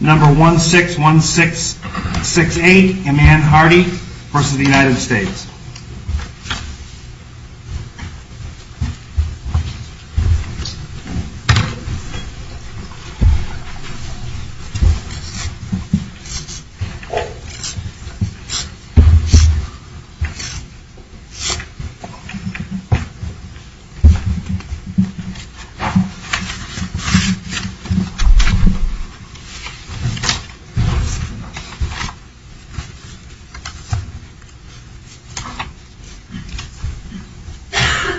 number one six one six six eight a man Hardy versus the United States number one six one six eight.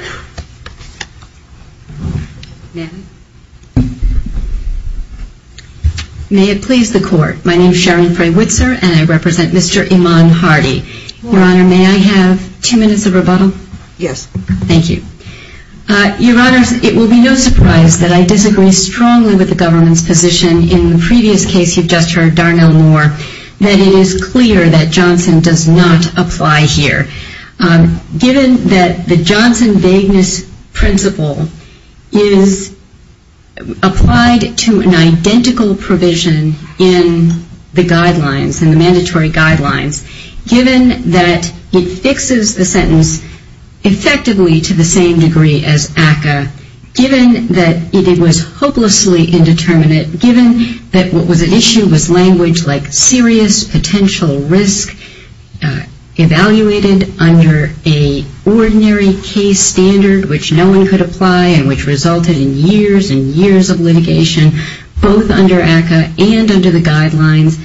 May it please the court. My name is Sharon Fray-Witzer, and I represent Mr. Eman Hardy. Your Honor, may I have two minutes of rebuttal? Yes. Thank you. Your Honors, it will be no surprise that I disagree strongly with the government's position in the previous case you've just heard, Darnell Moore, that it is clear that Johnson does not apply here. Given that the Johnson vagueness principle is applied to an identical provision in the guidelines, in the mandatory guidelines, given that it fixes the sentence effectively to the same degree as ACCA, given that it was hopelessly indeterminate, given that what was at issue was language like serious potential risk evaluated under a ordinary case standard which no one could apply and which resulted in years and years of litigation, both under ACCA and under the guidelines,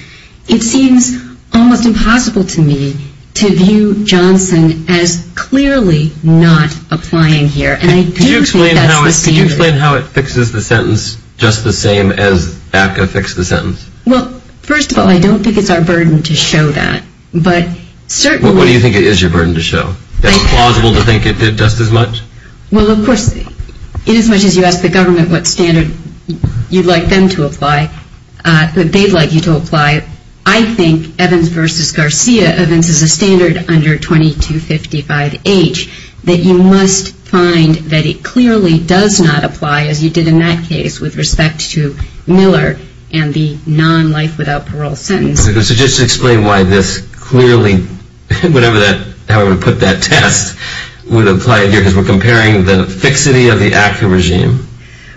it seems almost impossible to me to view Johnson as clearly not applying here. And I do think that's the standard. Could you explain how it fixes the sentence just the same as ACCA fixed the sentence? Well, first of all, I don't think it's our burden to show that. But certainly... What do you think it is your burden to show? That it's plausible to think it did just as much? Well, of course, inasmuch as you ask the government what standard you'd like them to apply, they'd like you to apply, I think, Evans versus Garcia, Evans is a standard under 2255H, that you must find that it clearly does not apply as you did in that case with respect to Miller and the non-life without parole sentence. So just explain why this clearly, whatever that, however you put that test, would apply here because we're comparing the fixity of the ACCA regime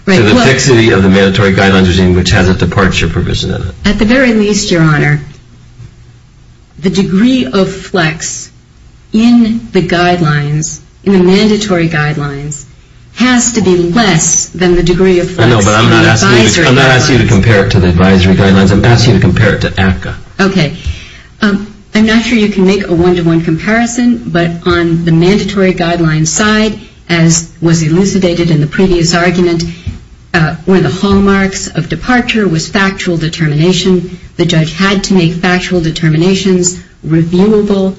to the fixity of the mandatory guidelines regime which has a departure provision in it. At the very least, Your Honor, the degree of flex in the guidelines, in the mandatory guidelines, has to be less than the degree of flex in the advisory guidelines. No, but I'm not asking you to compare it to the advisory guidelines. I'm asking you to compare it to ACCA. Okay. I'm not sure you can make a one-to-one comparison, but on the mandatory guidelines side, as was elucidated in the previous argument, one of the hallmarks of departure was factual determination. The judge had to make factual determinations reviewable,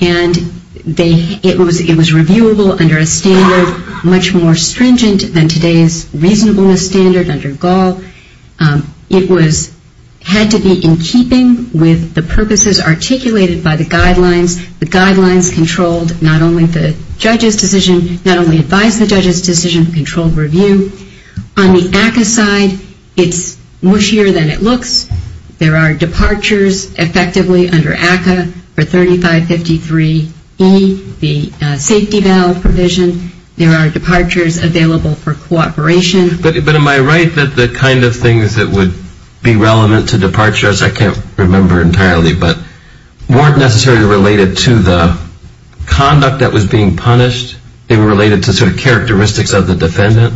and it was reviewable under a standard much more stringent than today's reasonableness standard under Gall. It had to be in keeping with the purposes articulated by the guidelines. The guidelines controlled not only the judge's decision, not only advised the judge's decision, controlled review. On the ACCA side, it's mushier than it looks. There are departures effectively under ACCA for 3553E, the safety valve provision. There are departures available for cooperation. But am I right that the kind of things that would be relevant to departure, as I can't remember entirely, but weren't necessarily related to the conduct that was being punished? They were related to sort of characteristics of the defendant?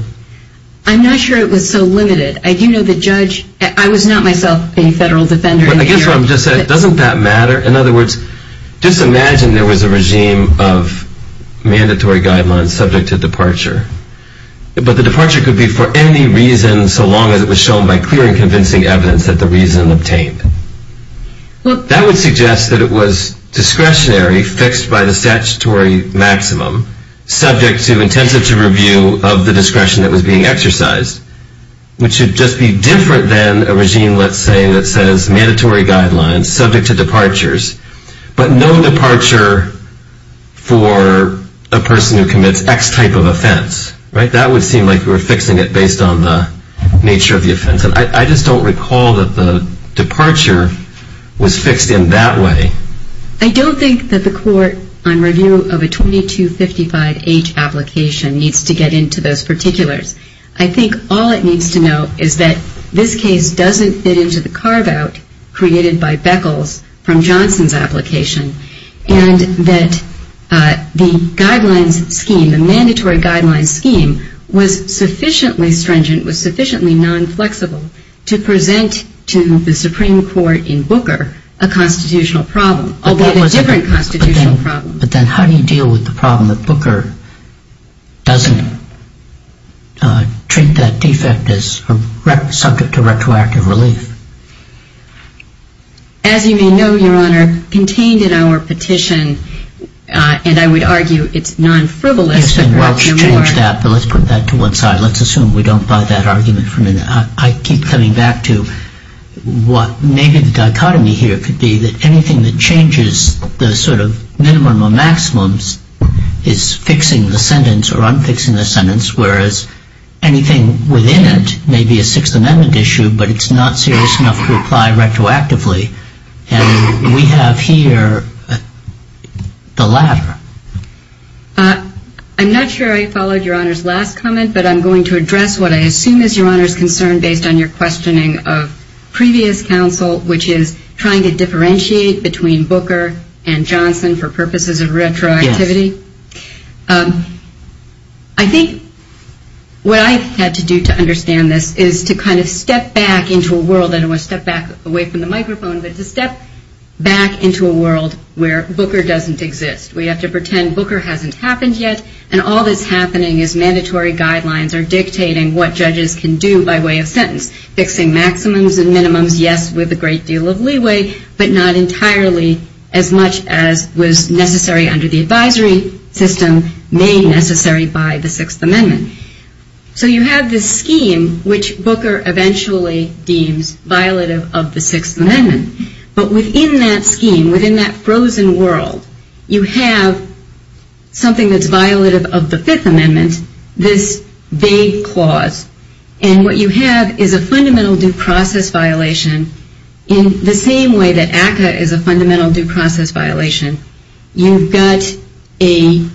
I'm not sure it was so limited. I do know the judge, I was not myself a federal defender. But I guess what I'm just saying, doesn't that matter? In other words, just imagine there was a regime of mandatory guidelines subject to departure. But the departure could be for any reason so long as it was shown by clear and convincing evidence that the reason obtained. That would suggest that it was discretionary, fixed by the statutory maximum, subject to intensive review of the discretion that was being exercised, which would just be different than a regime, let's say, that says mandatory guidelines subject to departures, but no departure for a person who commits x type of offense. That would seem like we were fixing it based on the nature of the offense. I just don't recall that the departure was fixed in that way. I don't think that the court, on review of a 2255H application, needs to get into those particulars. I think all it needs to know is that this case doesn't fit into the carve out created by Beckles from Johnson's application, and that the guidelines scheme, the mandatory guidelines scheme, was sufficiently stringent, was sufficiently non-flexible, to present to the Supreme Court in Booker a constitutional problem, although a different constitutional problem. But then how do you deal with the problem that Booker doesn't treat that defect as subject to retroactive relief? As you may know, Your Honor, contained in our petition, and I would argue it's non-frivolous, Yes, and we'll change that, but let's put that to one side. Let's assume we don't buy that argument from him. I keep coming back to what maybe the dichotomy here could be, that anything that changes the sort of minimum or maximum is fixing the sentence or unfixing the sentence, whereas anything within it may be a Sixth Amendment issue, but it's not serious enough to apply retroactively. And we have here the latter. I'm not sure I followed Your Honor's last comment, but I'm going to address what I assume is Your Honor's concern based on your questioning of previous counsel, which is trying to differentiate between Booker and Johnson for purposes of retroactivity. I think what I've had to do to understand this is to kind of step back into a world, I don't want to step back away from the microphone, but to step back into a world where Booker doesn't exist. We have to pretend Booker hasn't happened yet and all that's happening is mandatory guidelines are dictating what judges can do by way of sentence, fixing maximums and minimums, yes, with a great deal of leeway, but not entirely as much as was necessary under the advisory system made necessary by the Sixth Amendment. So you have this scheme which Booker eventually deems violative of the Sixth Amendment, but within that scheme, within that frozen world, you have something that's violative of the Fifth Amendment, this vague clause, and what you have is a fundamental due process violation in the same way that ACCA is a fundamental due process violation. You've got something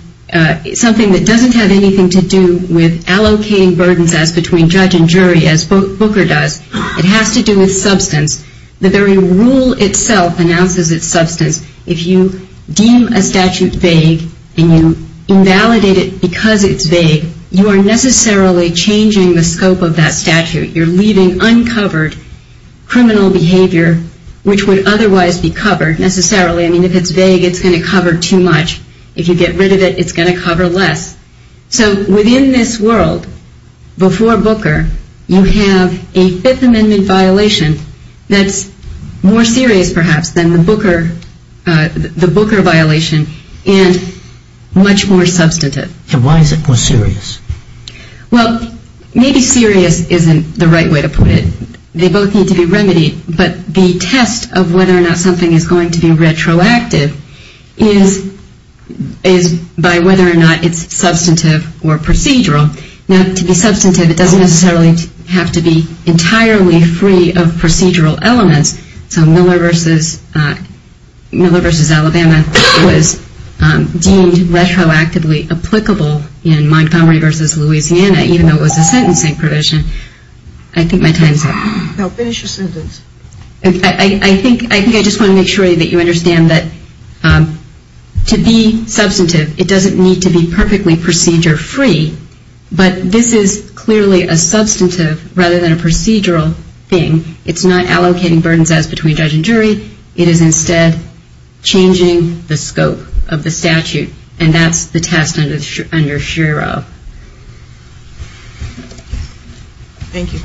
that doesn't have anything to do with allocating burdens as between judge and jury as Booker does. It has to do with substance. The very rule itself announces its substance. If you deem a statute vague and you invalidate it because it's vague, you are necessarily changing the scope of that statute. You're leaving uncovered criminal behavior which would otherwise be covered necessarily. I mean, if it's vague, it's going to cover too much. If you get rid of it, it's going to cover less. So within this world, before Booker, you have a statute that's more serious perhaps than the Booker violation and much more substantive. And why is it more serious? Well, maybe serious isn't the right way to put it. They both need to be remedied, but the test of whether or not something is going to be retroactive is by whether or not it's substantive or procedural. Now, to be substantive, it doesn't necessarily have to be entirely free of procedural elements. So Miller v. Alabama was deemed retroactively applicable in Montgomery v. Louisiana, even though it was a sentencing provision. I think my time is up. I think I just want to make sure that you understand that to be substantive, it doesn't need to be perfectly procedure free, but this is clearly a substantive rather than a procedural thing. It's not allocating burdens as between judge and jury. It is instead changing the scope of the statute, and that's the test under SHERA. Thank you.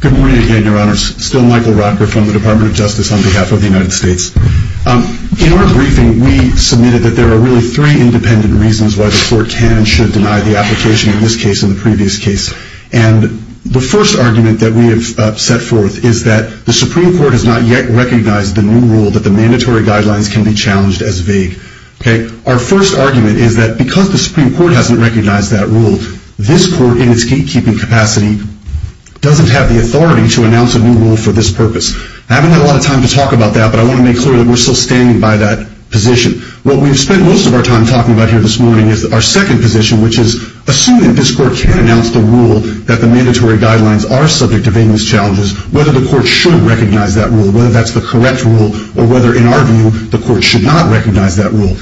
Good morning again, Your Honors. Still Michael Rocker from the Department of Justice on behalf of the United States. In our briefing, we submitted that there are really three independent reasons why the Court can and should deny the application in this case and the previous case. And the first argument that we have set forth is that the Supreme Court has not yet recognized the new rule that the mandatory guidelines can be challenged as vague. Our first argument is that because the Supreme Court hasn't recognized that rule, this Court, in its gatekeeping capacity, doesn't have the authority to announce a new rule for this purpose. I haven't had a lot of time to talk about that, but I want to make clear that we're still standing by that position. What we've spent most of our time talking about here this morning is our second position, which is assuming that this Court can announce the rule that the mandatory guidelines are subject to vagueness challenges, whether the Court should recognize that rule, whether that's the correct rule, or whether, in our view, the Court should not recognize that rule.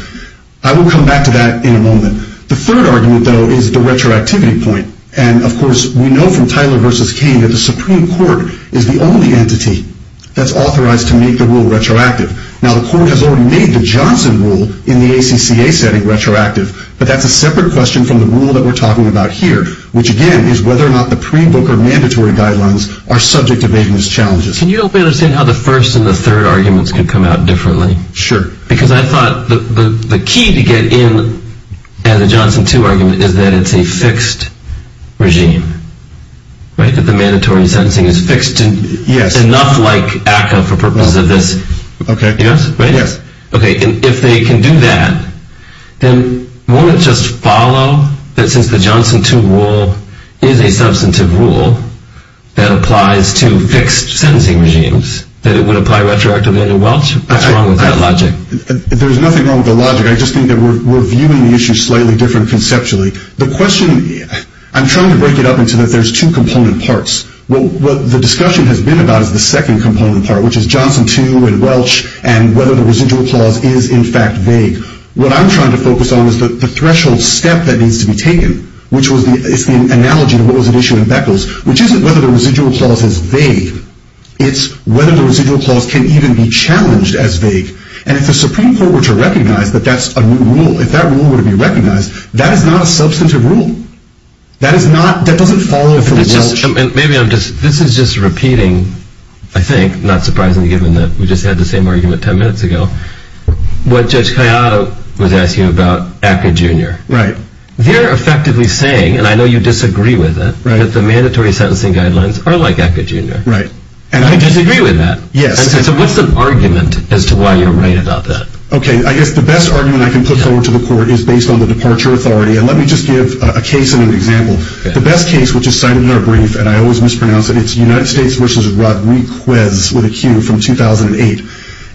I will come back to that in a moment. The third argument, though, is the retroactivity point. And, of course, we know from Tyler v. Kane that the Supreme Court is the only entity that's authorized to make the rule retroactive. Now, the Court has already made the Johnson rule in the ACCA setting retroactive, but that's a separate question from the rule that we're talking about here, which, again, is whether or not the pre-book or mandatory guidelines are subject to vagueness challenges. Can you help me understand how the first and the third arguments can come out differently? Sure. Because I thought the key to get in as a Johnson 2 argument is that it's a fixed regime. Right? That the mandatory sentencing is fixed. Yes. And not like ACCA for purposes of this. Okay. Yes. Right? Yes. Okay. And if they can do that, then won't it just follow that since the Johnson 2 rule is a substantive rule that applies to fixed sentencing regimes, that it would apply retroactively under Welch? What's wrong with that logic? There's nothing wrong with the logic. I just think that we're viewing the issue slightly different conceptually. The question, I'm trying to break it up into that there's two component parts. What the discussion has been about is the second component part, which is Johnson 2 and Welch and whether the residual clause is in fact vague. What I'm trying to focus on is the threshold step that needs to be taken, which is the analogy to what was at issue in Beckles, which isn't whether the residual clause is vague. It's whether the residual clause can even be challenged as vague. And if the Supreme Court were to recognize that that's a new rule, if that is a substantive rule, that is not, that doesn't follow from Welch. Maybe I'm just, this is just repeating, I think, not surprisingly given that we just had the same argument 10 minutes ago, what Judge Cayado was asking about ACCA Jr. Right. They're effectively saying, and I know you disagree with it, that the mandatory sentencing guidelines are like ACCA Jr. Right. And I disagree with that. Yes. And so what's the argument as to why you're right about that? Okay. I guess the best argument I can put forward to the court is to give a case and an example. The best case, which is cited in our brief, and I always mispronounce it, it's United States v. Rodriquez with a Q from 2008.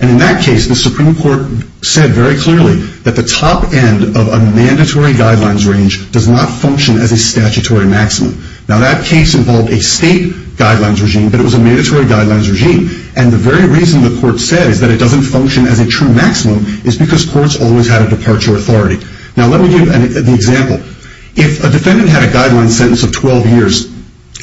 And in that case, the Supreme Court said very clearly that the top end of a mandatory guidelines range does not function as a statutory maximum. Now, that case involved a state guidelines regime, but it was a mandatory guidelines regime. And the very reason the court said is that it doesn't function as a true maximum is because courts always had a departure authority. Now, let me give an example. If a defendant had a guidelines sentence of 12 years,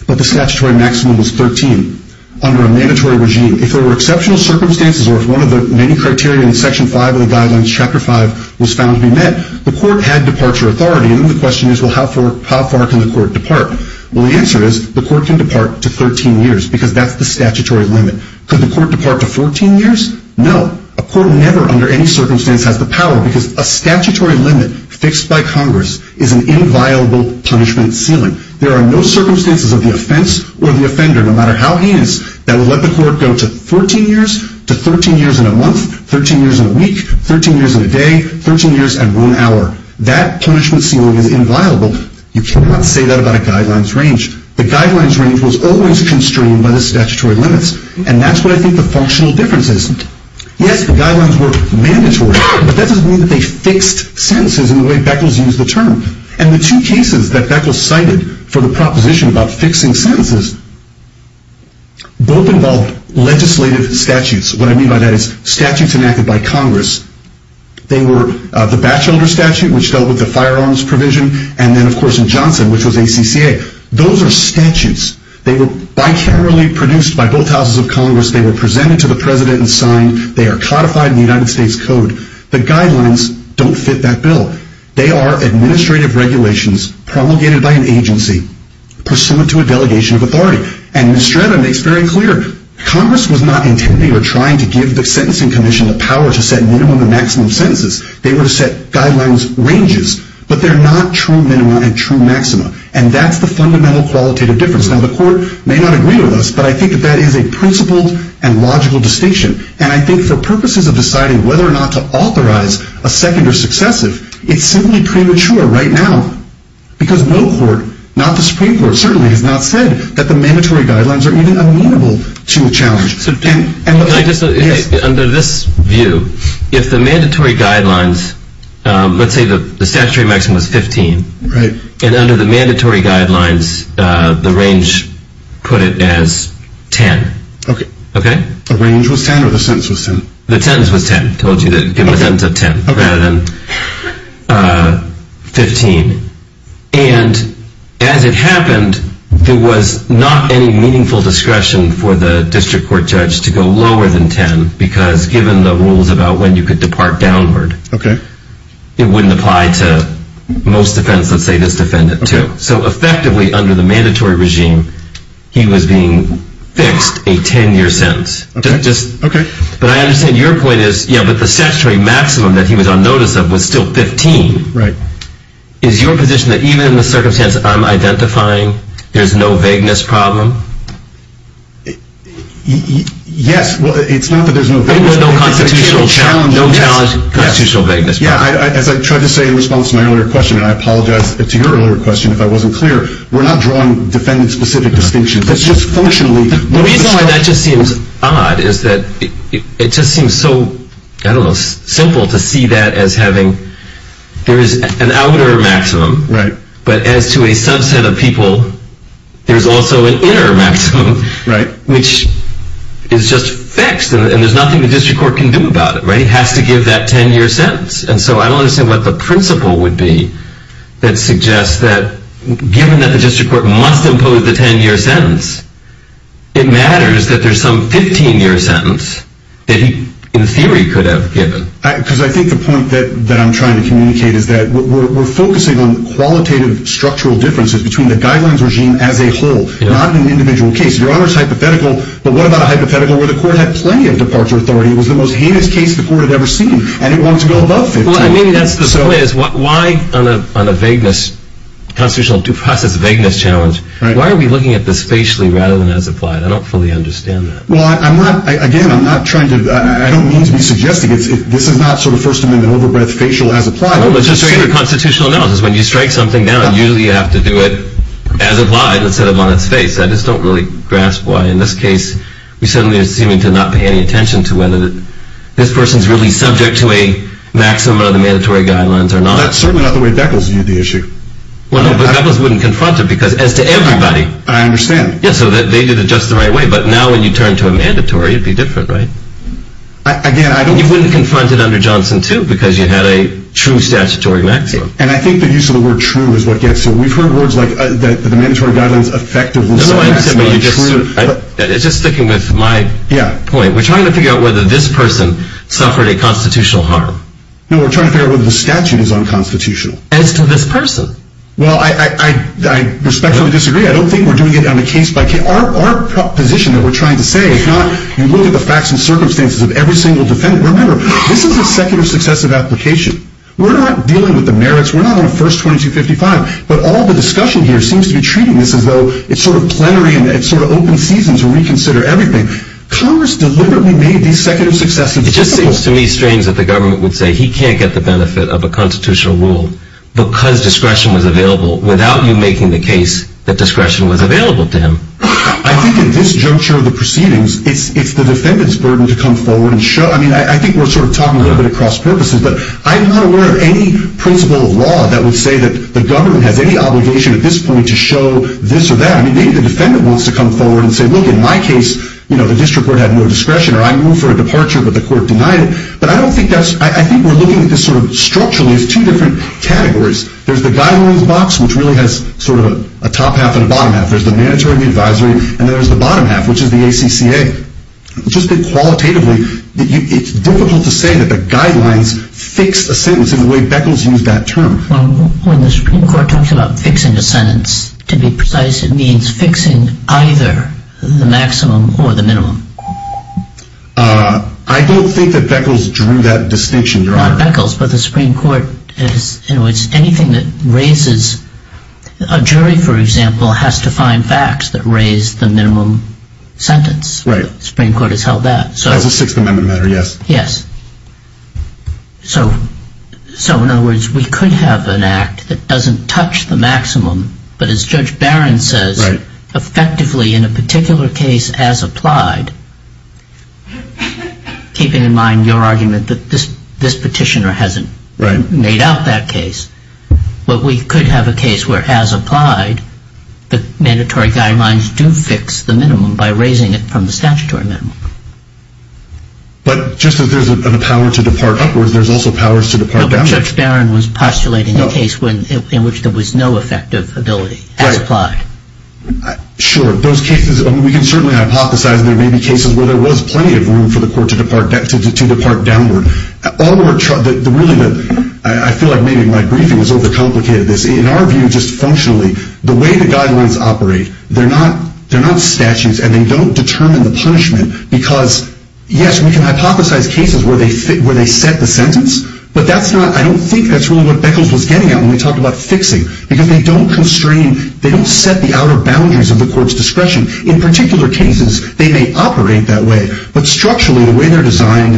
but the statutory maximum was 13 under a mandatory regime, if there were exceptional circumstances or if one of the many criteria in Section 5 of the guidelines, Chapter 5, was found to be met, the court had departure authority. And then the question is, well, how far can the court depart? Well, the answer is the court can depart to 13 years because that's the statutory limit. Could the court depart to 14 years? No. A court never under any circumstance has the power because a statutory limit fixed by Congress is an inviolable punishment ceiling. There are no circumstances of the offense or the offender, no matter how heinous, that would let the court go to 14 years to 13 years in a month, 13 years in a week, 13 years in a day, 13 years and one hour. That punishment ceiling is inviolable. You cannot say that about a guidelines range. The guidelines range was always constrained by the statutory limits. And that's what I think the functional difference is. Yes, the guidelines were mandatory, but that doesn't mean that they fixed sentences in the way Beckles used the term. And the two cases that Beckles cited for the proposition about fixing sentences, both involved legislative statutes. What I mean by that is statutes enacted by Congress. They were the Batchelder statute, which dealt with the firearms provision, and then, of course, in Johnson, which was ACCA. Those are statutes. They were bicamerally produced by both houses of Congress. They were presented to the President and signed. They are codified in the United States Code. The guidelines don't fit that bill. They are administrative regulations promulgated by an agency, pursuant to a delegation of authority. And Ms. Stratton makes very clear, Congress was not intending or trying to give the Sentencing Commission the power to set minimum and maximum sentences. They were to set guidelines ranges. But they're not true minima and true maxima. And that's the fundamental qualitative difference. Now, the court may not agree with us, but I think that that is a principled and logical distinction. And I think for purposes of deciding whether or not to authorize a second or successive, it's simply premature right now. Because no court, not the Supreme Court, certainly has not said that the mandatory guidelines are even amenable to a challenge. Under this view, if the mandatory guidelines, let's say the statutory maximum is 15, and under the mandatory guidelines, the range put it as 10. The range was 10 or the sentence was 10? The sentence was 10. I told you to give the sentence a 10 rather than 15. And as it happened, there was not any meaningful discretion for the district court judge to go lower than 10, because given the rules about when you could depart downward, it wouldn't apply to most defense, let's say this defendant, too. So effectively, under the mandatory regime, he was being fixed a 10-year sentence. But I understand your point is, yeah, but the statutory maximum that he was on notice of was still 15. Is your position that even in the circumstance I'm identifying, there's no vagueness problem? Yes. Well, it's not that there's no vagueness problem, it's that it can't be challenged. As I tried to say in response to my earlier question, and I apologize to your earlier question if I wasn't clear, we're not drawing defendant-specific distinctions, it's just functionally. The reason why that just seems odd is that it just seems so, I don't know, simple to see that as having, there's an outer maximum, but as to a subset of people, there's also an inner maximum, which is just fixed, and there's nothing the district court can do about it, right? It has to give that 10-year sentence. And so I don't understand what the principle would be that suggests that given that the district court must impose the 10-year sentence, it matters that there's some 15-year sentence that he, in theory, could have given. Because I think the point that I'm trying to communicate is that we're focusing on qualitative structural differences between the guidelines regime as a whole, not in an individual case. Your Honor's hypothetical, but what about a hypothetical where the court had plenty of departure authority, it was the most heinous case the court had ever seen, and it wanted to go above 15. Well, I mean, that's the point, is why on a vagueness, constitutional due process vagueness challenge, why are we looking at this facially rather than as applied? I don't fully understand that. Well, I'm not, again, I'm not trying to, I don't mean to be suggesting, this is not sort of First Amendment over-breath facial as applied. No, but just so you know, constitutional analysis, when you strike something down, usually you have to do it as applied instead of on its face. I just don't really grasp why, in this case, we suddenly are seeming to not pay any attention to whether this person's really subject to a maximum of the mandatory guidelines or not. That's certainly not the way Beckles viewed the issue. Well, no, but Beckles wouldn't confront it, because as to everybody. I understand. Yeah, so they did it just the right way, but now when you turn to a mandatory, it'd be different, right? Again, I don't You wouldn't confront it under Johnson, too, because you had a true statutory maximum. And I think the use of the word true is what gets it. We've heard words like the mandatory guidelines effectively. It's just sticking with my point. We're trying to figure out whether this person suffered a constitutional harm. No, we're trying to figure out whether the statute is unconstitutional. As to this person. Well, I respectfully disagree. I don't think we're doing it on a case-by-case. Our position that we're trying to say is not, you look at the facts and circumstances of every single defendant. Remember, this is a secular successive application. We're not dealing with the merits. We're not on a First 2255. But all the discussion here seems to be treating this as though it's sort of plenary and it's sort of open season to reconsider everything. Congress deliberately made these secular successives difficult. It just seems to me strange that the government would say he can't get the benefit of a constitutional rule because discretion was available without you making the case that discretion was available to him. I think in this juncture of the proceedings, it's the defendant's burden to come forward and show I mean, I think we're sort of talking a little bit of cross purposes, but I'm not aware of any principle of law that would say that the government has any obligation at this point to show this or that. I mean, maybe the defendant wants to come forward and say, look, in my case, you know, the district court had no discretion, or I move for a departure, but the court denied it. But I don't think that's, I think we're looking at this sort of structurally as two different categories. There's the guidelines box, which really has sort of a top half and a bottom half. There's the mandatory and the advisory, and then there's the bottom half, which is the ACCA. It's just been qualitatively, it's difficult to say that the guidelines fix a sentence in the way Beckles used that term. When the Supreme Court talks about fixing a sentence, to be precise, it means fixing either the maximum or the minimum. I don't think that Beckles drew that distinction, Your Honor. Not Beckles, but the Supreme Court, in which anything that raises a jury, for example, has to find facts that raise the minimum sentence. Right. The Supreme Court has held that. As a Sixth Amendment matter, yes. Yes. So, in other words, we could have an act that doesn't touch the maximum, but as Judge Barron says, effectively, in a particular case as applied, keeping in mind your argument that this petitioner hasn't made out that case, but we could have a case where, as applied, the mandatory guidelines do fix the minimum by raising it from the statutory minimum. But, just as there's a power to depart upwards, there's also powers to depart downwards. But Judge Barron was postulating a case in which there was no effective ability as applied. Right. Sure. Those cases, we can certainly hypothesize there may be cases where there was plenty of room for the court to depart downward. All we're trying to, really, I feel like maybe my briefing is overcomplicated. In our view, just functionally, the way the guidelines operate, they're not statutes and they don't determine the punishment because, yes, we can hypothesize cases where they set the sentence, but that's not, I don't think that's really what Beckles was getting at when we talked about fixing, because they don't constrain, they don't set the outer boundaries of the court's discretion. In particular cases, they may operate that way, but structurally, the way they're designed,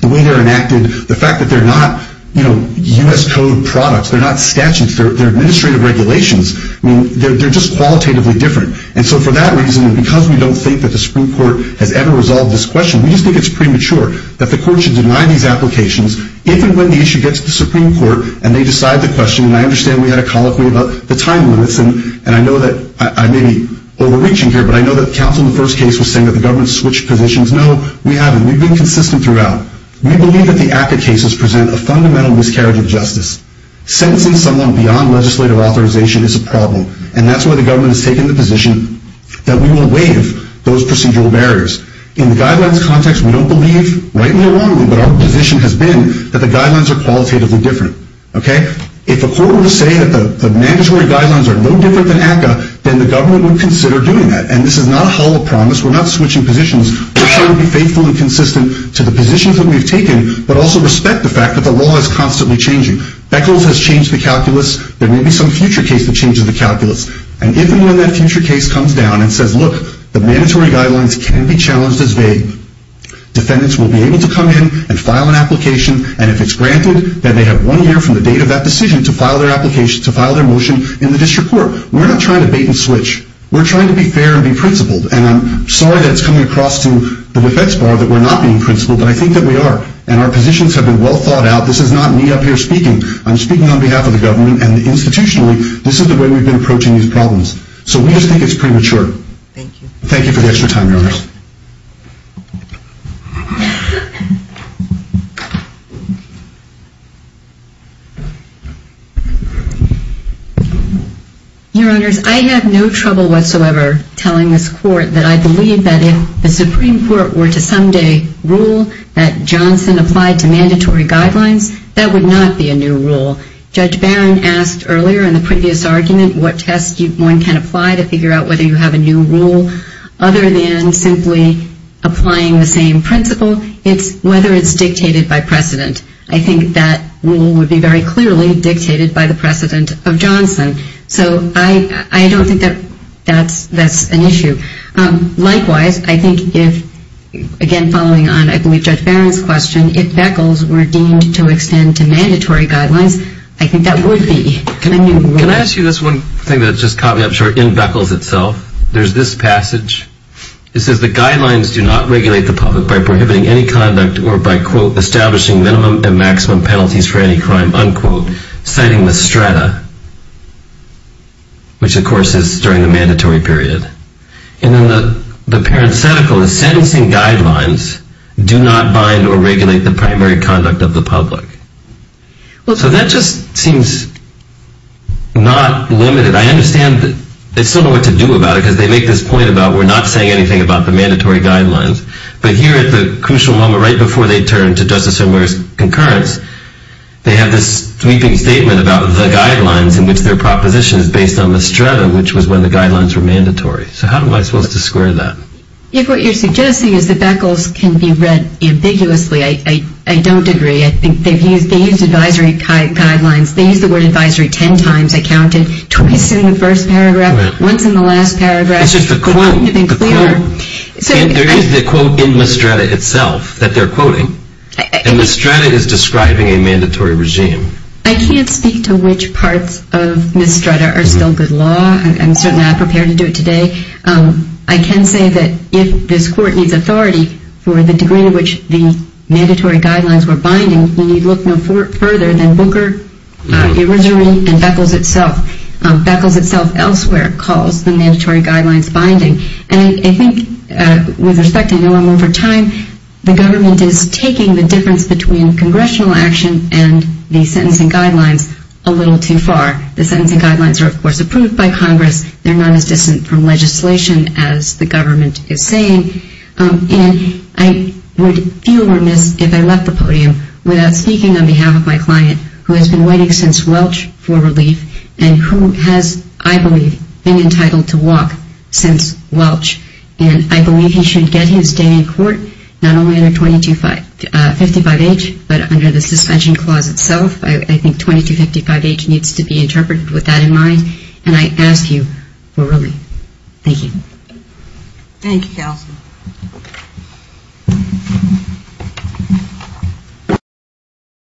the way they're enacted, the fact that they're not U.S. Code products, they're not statutes, they're administrative regulations, they're just qualitatively different. And so for that reason, and because we don't think that the Supreme Court has ever resolved this question, we just think it's premature that the court should deny these applications even when the issue gets to the Supreme Court and they decide the question. And I understand we had a colloquy about the time limits, and I know that I may be overreaching here, but I know that the counsel in the first case was saying that the government switched positions. No, we haven't. We've been consistent throughout. We believe that the ACCA cases present a fundamental miscarriage of justice. Sentencing someone beyond legislative authorization is a condition that we will waive those procedural barriers. In the guidelines context, we don't believe, rightly or wrongly, but our position has been that the guidelines are qualitatively different. Okay? If a court were to say that the mandatory guidelines are no different than ACCA, then the government would consider doing that. And this is not a hall of promise. We're not switching positions. We're trying to be faithful and consistent to the positions that we've taken, but also respect the fact that the law is constantly changing. Beckles has changed the calculus. There may be some future case that changes the calculus. And if and when that future case comes down and says, look, the mandatory guidelines can be challenged as vague, defendants will be able to come in and file an application, and if it's granted, then they have one year from the date of that decision to file their motion in the district court. We're not trying to bait and switch. We're trying to be fair and be principled, and I'm sorry that it's coming across to the defense bar that we're not being principled, but I think that we are, and our positions have been well thought out. This is not me up here speaking. I'm speaking on behalf of the government, and I'm speaking on behalf of the people who are transposing these problems. So we just think it's premature. Thank you. Your Honors, I have no trouble whatsoever telling this Court that I believe that if the Supreme Court were to someday rule that one can apply to figure out whether you have a new rule other than simply applying the same principle, it's whether it's dictated by precedent. I think that rule would be very clearly dictated by the precedent of Johnson. So I don't think that that's an issue. Likewise, I think if again following on, I believe, Judge Barron's question, if Beckles were deemed to extend to mandatory guidelines, I think that would be a new rule. Can I ask you this one thing that just caught me up short in Beckles itself? There's this passage. It says the guidelines do not regulate the public by prohibiting any conduct or by quote establishing minimum and maximum penalties for any crime, unquote, citing the strata, which of course is during the mandatory period. And then the parenthetical is sentencing guidelines do not bind or regulate the primary conduct of the public. So that just seems not limited. I understand that they still know what to do about it because they make this point about we're not saying anything about the mandatory guidelines. But here at the crucial moment right before they turn to Justice O'Mara's concurrence, they have this sweeping statement about the guidelines in which their proposition is based on the strata, which was when the guidelines were mandatory. So how am I supposed to square that? If what you're suggesting is that Beckles can be read ambiguously, I don't agree. I think they've used advisory guidelines. They used the word advisory ten times. I counted. Twice in the first paragraph. Once in the last paragraph. It's just the quote. There is the quote in the strata itself that they're quoting. And the strata is describing a mandatory regime. I can't speak to which parts of the strata are still good law. I'm certainly not prepared to do it today. I can say that if this court needs authority for the degree to which the mandatory guidelines were binding, we need look no further than Booker, advisory, and Beckles itself. Beckles itself elsewhere calls the mandatory guidelines binding. And I think with respect, I know I'm over time, the government is taking the difference between congressional action and the sentencing guidelines a little too far. The sentencing guidelines are of course approved by Congress. They're not as distant from legislation as the government is saying. And I would feel remiss if I left the podium without speaking on behalf of my client who has been waiting since Welch for relief and who has, I believe, been entitled to walk since Welch. And I believe he should get his day in court not only under 2255H but under the suspension clause itself. I think 2255H needs to be interpreted with that in mind. And I ask you for relief. Thank you.